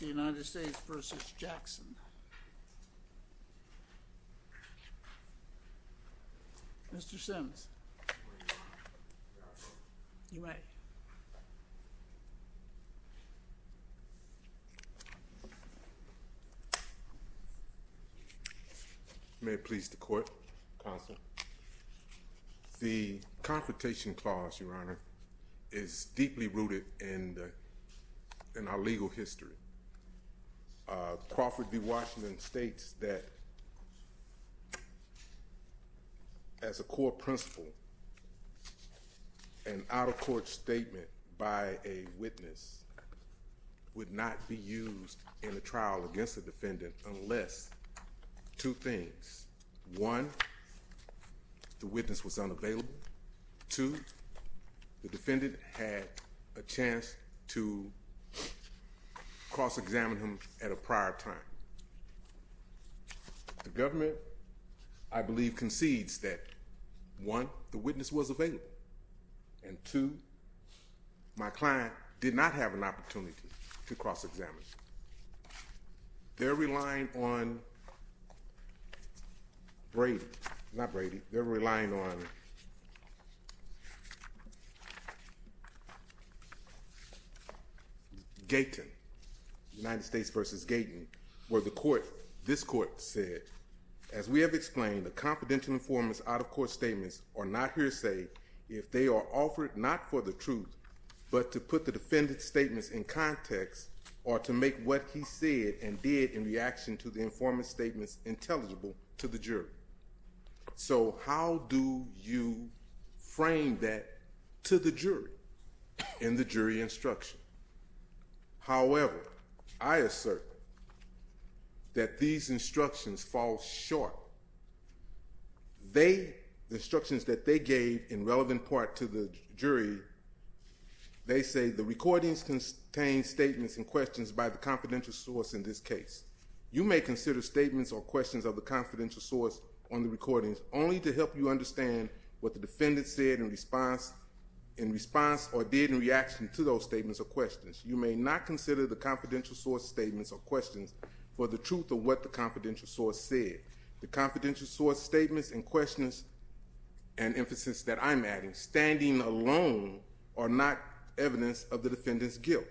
United States v. Jackson. Mr. Sims, you may. May it please the Court, Counsel. The Confrontation Clause, Your Honor, is deeply rooted in our legal history. Crawford v. Washington states that, as a core principle, an out-of-court statement by a witness would not be used in a trial against a defendant unless two things. One, the witness was unavailable. Two, the defendant had a chance to cross-examine him at a prior time. The government, I believe, concedes that, one, the witness was available. And two, my client did not have an opportunity to cross-examine him. They're relying on Brady. Not Brady. They're relying on Gaten. United States v. Gaten, where the Court, this Court, said, As we have explained, a confidential informant's out-of-court statements are not hearsay if they are offered not for the truth but to put the defendant's statements in context or to make what he said and did in reaction to the informant's statements intelligible to the jury. So how do you frame that to the jury in the jury instruction? However, I assert that these instructions fall short. They, the instructions that they gave in relevant part to the jury, they say, The recordings contain statements and questions by the confidential source in this case. You may consider statements or questions of the confidential source on the recordings only to help you understand what the defendant said in response or did in reaction to those statements or questions. You may not consider the confidential source statements or questions for the truth of what the confidential source said. The confidential source statements and questions and emphasis that I'm adding standing alone are not evidence of the defendant's guilt.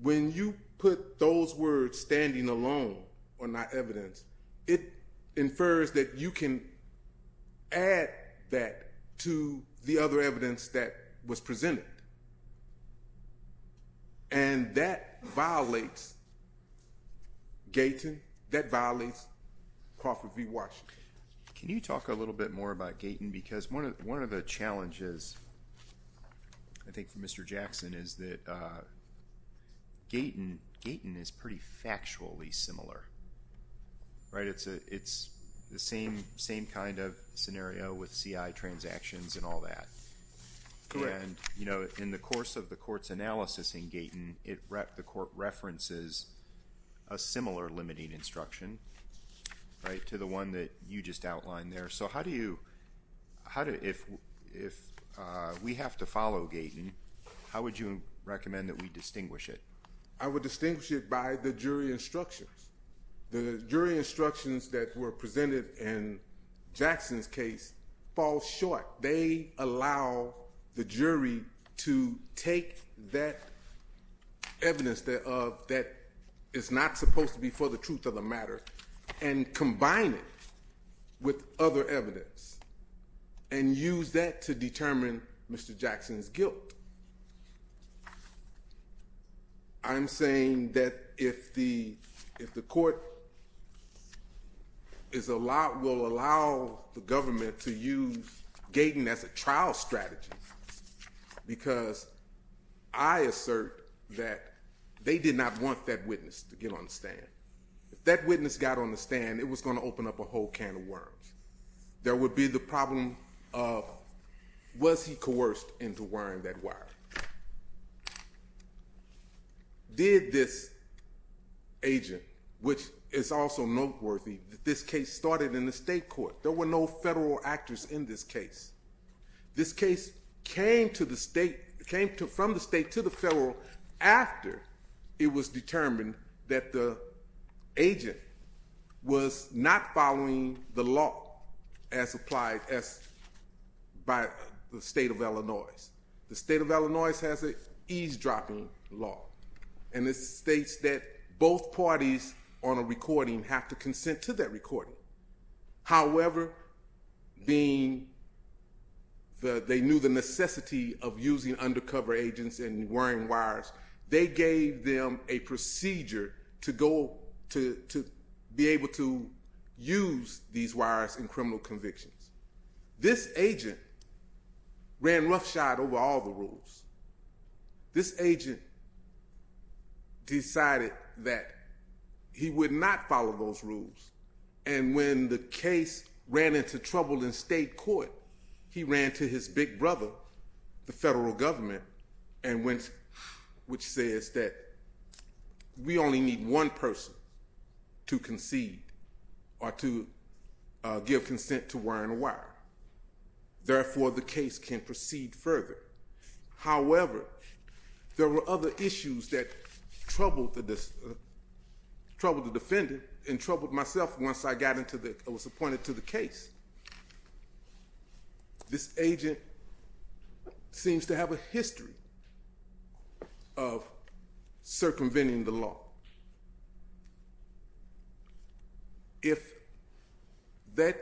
When you put those words standing alone are not evidence, it infers that you can add that to the other evidence that was presented. And that violates Gaten, that violates Crawford v. Washington. Can you talk a little bit more about Gaten? Because one of the challenges I think for Mr. Jackson is that Gaten is pretty factually similar, right? It's the same kind of scenario with CI transactions and all that. Correct. And, you know, in the course of the court's analysis in Gaten, the court references a similar limiting instruction, right, to the one that you just outlined there. So how do you, if we have to follow Gaten, how would you recommend that we distinguish it? I would distinguish it by the jury instructions. The jury instructions that were presented in Jackson's case fall short. They allow the jury to take that evidence that is not supposed to be for the truth of the matter and combine it with other evidence and use that to determine Mr. Jackson's guilt. I'm saying that if the court will allow the government to use Gaten as a trial strategy because I assert that they did not want that witness to get on the stand. If that witness got on the stand, it was going to open up a whole can of worms. There would be the problem of was he coerced into wearing that wire? Did this agent, which is also noteworthy, this case started in the state court. There were no federal actors in this case. This case came from the state to the federal after it was determined that the agent was not following the law as applied by the state of Illinois. The state of Illinois has an eavesdropping law, and it states that both parties on a recording have to consent to that recording. However, being that they knew the necessity of using undercover agents and wearing wires, they gave them a procedure to be able to use these wires in criminal convictions. This agent ran roughshod over all the rules. This agent decided that he would not follow those rules, and when the case ran into trouble in state court, he ran to his big brother, the federal government, which says that we only need one person to concede or to give consent to wearing a wire. Therefore, the case can proceed further. However, there were other issues that troubled the defendant and troubled myself once I was appointed to the case. This agent seems to have a history of circumventing the law. If that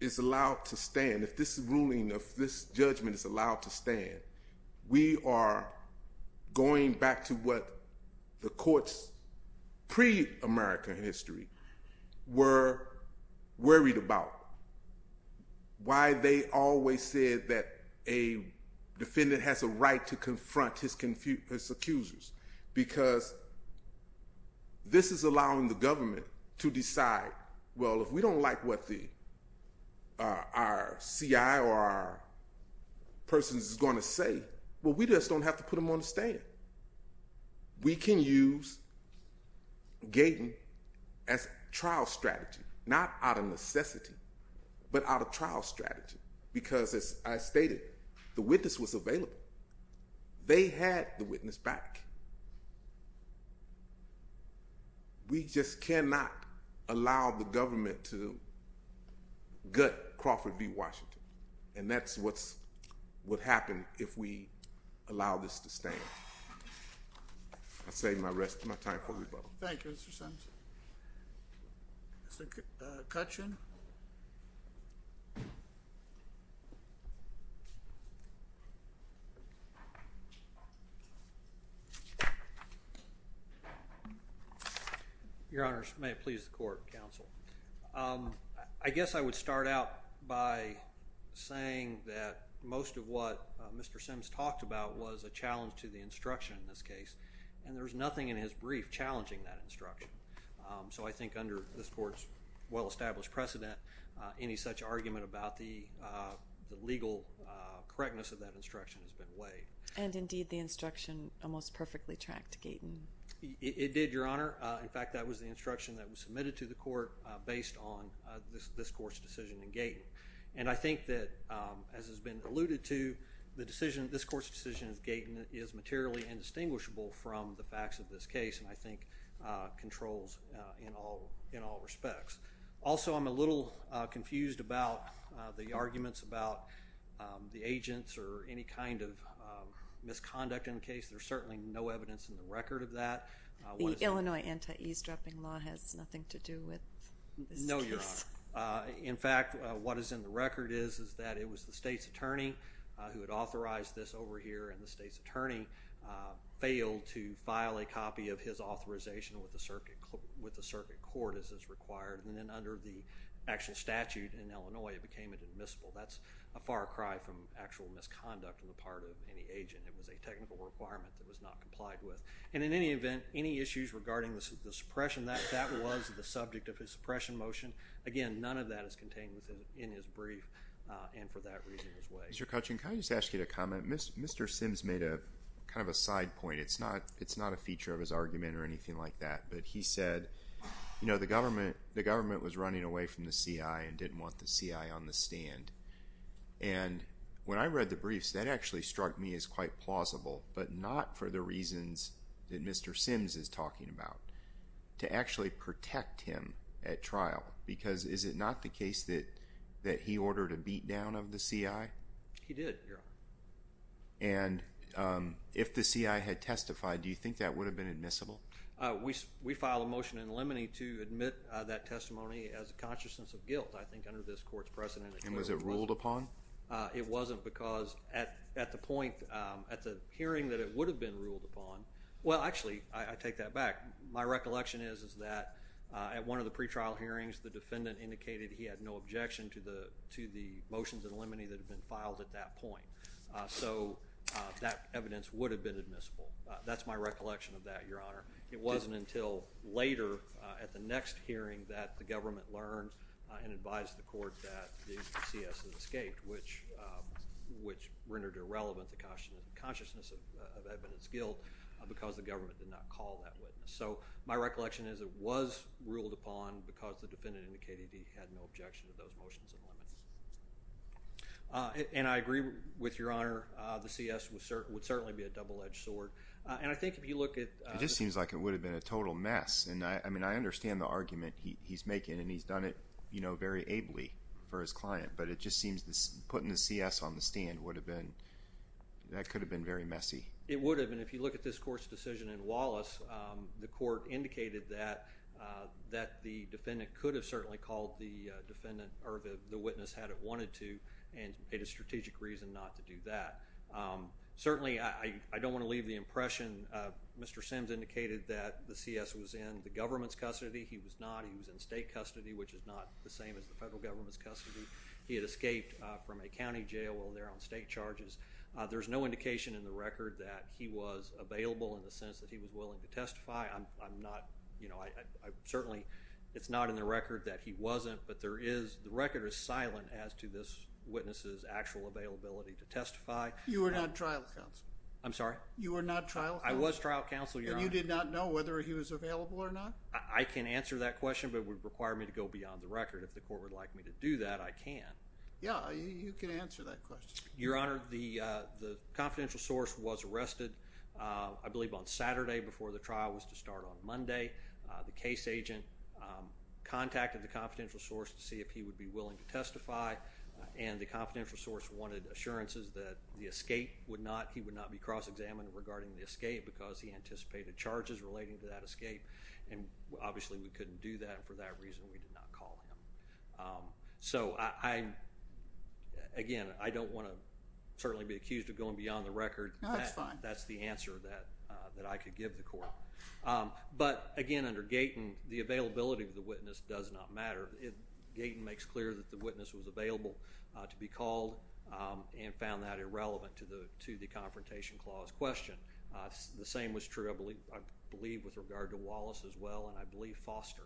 is allowed to stand, if this ruling, if this judgment is allowed to stand, we are going back to what the courts pre-American history were worried about. Why they always said that a defendant has a right to confront his accusers, because this is allowing the government to decide, well, if we don't like what our CI or our person is going to say, well, we just don't have to put them on the stand. We can use Gaten as a trial strategy, not out of necessity, but out of trial strategy, because as I stated, the witness was available. They had the witness back. We just cannot allow the government to gut Crawford v. Washington, and that's what would happen if we allow this to stand. I'll save my time for rebuttal. Thank you, Mr. Simpson. Mr. Kutchin? Your Honors, may it please the court, counsel. I guess I would start out by saying that most of what Mr. Simms talked about was a challenge to the instruction in this case, and there's nothing in his brief challenging that instruction. So I think under this court's well-established precedent, any such argument about the legal correctness of that instruction has been weighed. And indeed, the instruction almost perfectly tracked Gaten. It did, Your Honor. In fact, that was the instruction that was submitted to the court based on this court's decision in Gaten. And I think that, as has been alluded to, this court's decision in Gaten is materially indistinguishable from the facts of this case and I think controls in all respects. Also, I'm a little confused about the arguments about the agents or any kind of misconduct in the case. There's certainly no evidence in the record of that. The Illinois anti-eavesdropping law has nothing to do with this case. No, Your Honor. In fact, what is in the record is that it was the state's attorney who had authorized this over here, and the state's attorney failed to file a copy of his authorization with the circuit court as is required. And then under the actual statute in Illinois, it became admissible. That's a far cry from actual misconduct on the part of any agent. It was a technical requirement that was not complied with. And in any event, any issues regarding the suppression, that was the subject of his suppression motion. Again, none of that is contained in his brief, and for that reason, it was weighed. Mr. Kuchin, can I just ask you to comment? Mr. Sims made kind of a side point. It's not a feature of his argument or anything like that, but he said, you know, the government was running away from the CI and didn't want the CI on the stand. And when I read the briefs, that actually struck me as quite plausible, but not for the reasons that Mr. Sims is talking about, to actually protect him at trial. Because is it not the case that he ordered a beatdown of the CI? He did, Your Honor. And if the CI had testified, do you think that would have been admissible? We filed a motion in Lemony to admit that testimony as a consciousness of guilt, I think, under this court's precedent. And was it ruled upon? It wasn't because at the point, at the hearing that it would have been ruled upon, well, actually, I take that back. My recollection is that at one of the pretrial hearings, the defendant indicated he had no objection to the motions in Lemony that had been filed at that point. So that evidence would have been admissible. That's my recollection of that, Your Honor. It wasn't until later at the next hearing that the government learned and advised the court that the CS had escaped, which rendered irrelevant the consciousness of evidence guilt because the government did not call that witness. So my recollection is it was ruled upon because the defendant indicated he had no objection to those motions in Lemony. And I agree with Your Honor, the CS would certainly be a double-edged sword. And I think if you look at— It just seems like it would have been a total mess. And, I mean, I understand the argument he's making, and he's done it very ably for his client. But it just seems putting the CS on the stand would have been—that could have been very messy. It would have been. And if you look at this court's decision in Wallace, the court indicated that the defendant could have certainly called the witness had it wanted to and paid a strategic reason not to do that. Certainly, I don't want to leave the impression. Mr. Sims indicated that the CS was in the government's custody. He was not. He was in state custody, which is not the same as the federal government's custody. He had escaped from a county jail while there on state charges. There's no indication in the record that he was available in the sense that he was willing to testify. I'm not—you know, I certainly—it's not in the record that he wasn't. But there is—the record is silent as to this witness's actual availability to testify. You were not trial counsel. I'm sorry? You were not trial counsel. I was trial counsel, Your Honor. And you did not know whether he was available or not? I can answer that question, but it would require me to go beyond the record. If the court would like me to do that, I can. Yeah, you can answer that question. Your Honor, the confidential source was arrested, I believe, on Saturday before the trial was to start on Monday. The case agent contacted the confidential source to see if he would be willing to testify. And the confidential source wanted assurances that the escape would not—he would not be cross-examined regarding the escape because he anticipated charges relating to that escape. And obviously, we couldn't do that, and for that reason, we did not call him. So, again, I don't want to certainly be accused of going beyond the record. No, that's fine. That's the answer that I could give the court. But, again, under Gaten, the availability of the witness does not matter. Gaten makes clear that the witness was available to be called and found that irrelevant to the Confrontation Clause question. The same was true, I believe, with regard to Wallace as well, and I believe Foster.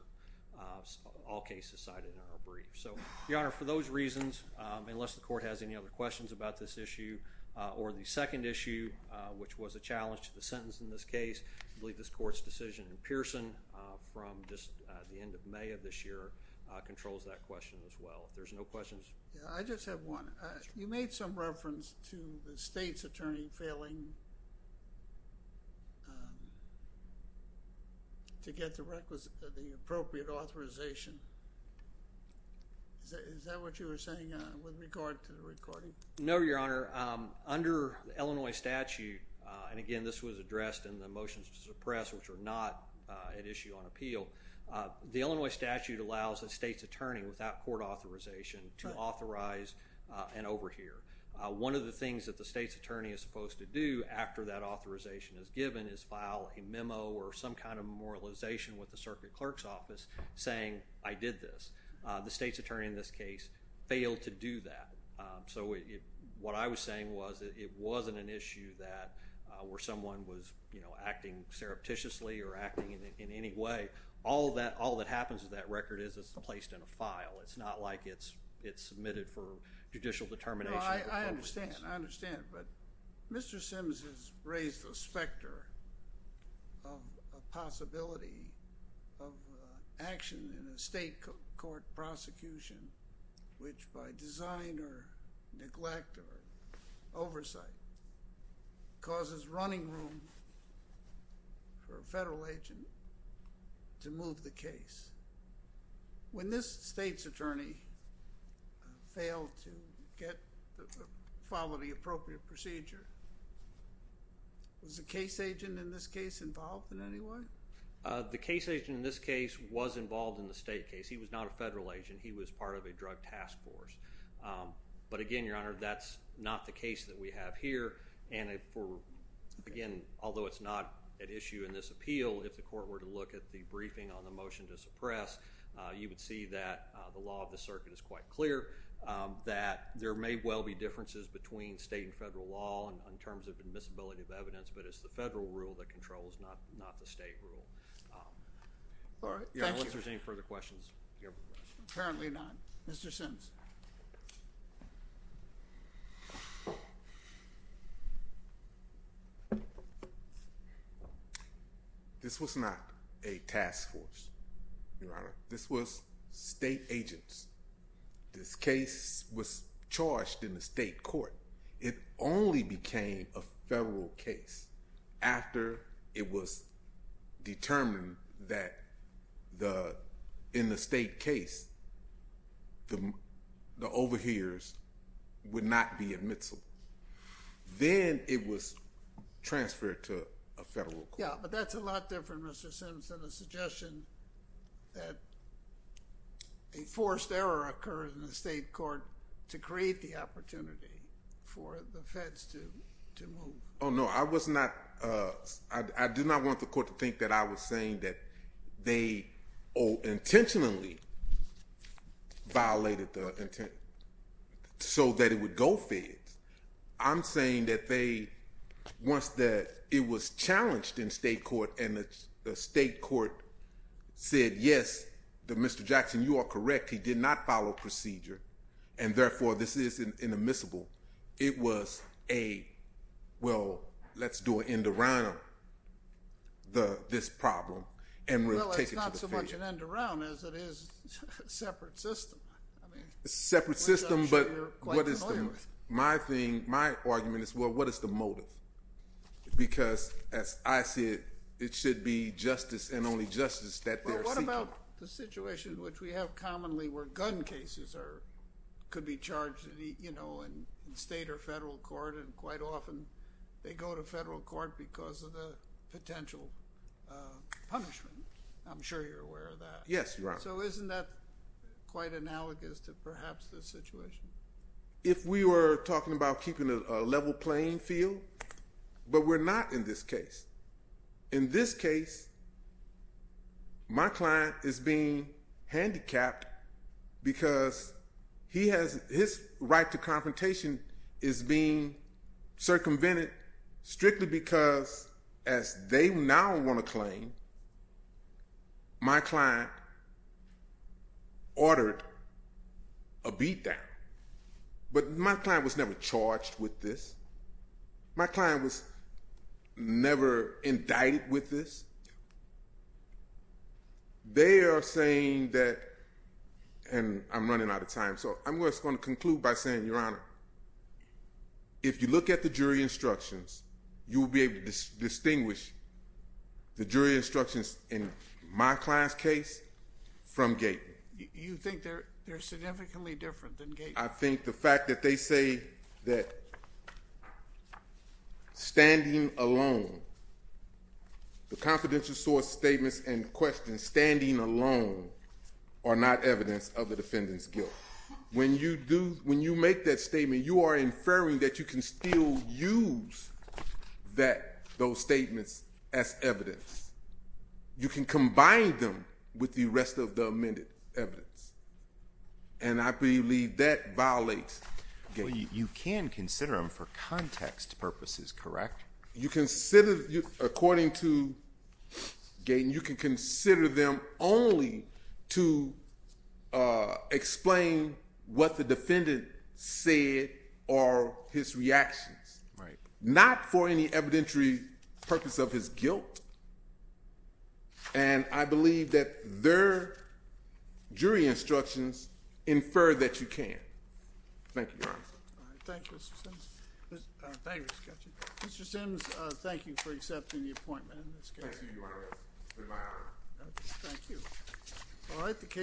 All cases cited in our brief. So, Your Honor, for those reasons, unless the court has any other questions about this issue, or the second issue, which was a challenge to the sentence in this case, I believe this court's decision in Pearson from just the end of May of this year controls that question as well. If there's no questions. I just have one. You made some reference to the state's attorney failing to get the appropriate authorization. Is that what you were saying with regard to the recording? No, Your Honor. Under the Illinois statute, and, again, this was addressed in the motions to suppress, which are not an issue on appeal, the Illinois statute allows a state's attorney without court authorization to authorize and overhear. One of the things that the state's attorney is supposed to do after that authorization is given is file a memo or some kind of memorialization with the circuit clerk's office saying, I did this. The state's attorney in this case failed to do that. What I was saying was it wasn't an issue where someone was acting surreptitiously or acting in any way. All that happens with that record is it's placed in a file. It's not like it's submitted for judicial determination. I understand. I understand, but Mr. Simms has raised the specter of a possibility of action in a state court prosecution, which by design or neglect or oversight causes running room for a federal agent to move the case. When this state's attorney failed to follow the appropriate procedure, was the case agent in this case involved in any way? The case agent in this case was involved in the state case. He was not a federal agent. He was part of a drug task force. But, again, Your Honor, that's not the case that we have here. Again, although it's not at issue in this appeal, if the court were to look at the briefing on the motion to suppress, you would see that the law of the circuit is quite clear, that there may well be differences between state and federal law in terms of admissibility of evidence, but it's the federal rule that controls, not the state rule. All right. Thank you. Your Honor, unless there's any further questions. Apparently not. Mr. Simms. This was not a task force, Your Honor. This was state agents. This case was charged in the state court. It only became a federal case after it was determined that in the state case, the overhears would not be admissible. Then it was transferred to a federal court. Yeah, but that's a lot different, Mr. Simms, than a suggestion that a forced error occurred in the state court to create the opportunity for the feds to move. Oh, no. I do not want the court to think that I was saying that they intentionally violated the intent so that it would go feds. I'm saying that once it was challenged in state court and the state court said, yes, Mr. Jackson, you are correct, he did not follow procedure, and therefore this is inadmissible, it was a, well, let's do an end around this problem. Well, it's not so much an end around as it is a separate system. A separate system, but what is the motive? My argument is, well, what is the motive? Because, as I said, it should be justice and only justice that they're seeking. What about the situation which we have commonly where gun cases could be charged in state or federal court and quite often they go to federal court because of the potential punishment? I'm sure you're aware of that. Yes, Your Honor. So isn't that quite analogous to perhaps this situation? If we were talking about keeping a level playing field, but we're not in this case. In this case, my client is being handicapped because his right to confrontation is being circumvented strictly because, as they now want to claim, my client ordered a beatdown. But my client was never charged with this. My client was never indicted with this. They are saying that, and I'm running out of time, so I'm just going to conclude by saying, Your Honor, if you look at the jury instructions, you will be able to distinguish the jury instructions in my client's case from Gaten. You think they're significantly different than Gaten? I think the fact that they say that standing alone, the confidential source statements and questions standing alone are not evidence of the defendant's guilt. When you make that statement, you are inferring that you can still use those statements as evidence. You can combine them with the rest of the amended evidence. And I believe that violates Gaten. You can consider them for context purposes, correct? According to Gaten, you can consider them only to explain what the defendant said or his reactions, not for any evidentiary purpose of his guilt. And I believe that their jury instructions infer that you can. Thank you, Your Honor. Thank you, Mr. Simms. Mr. Simms, thank you for accepting the appointment in this case. Thank you, Your Honor. It's been my honor. Thank you.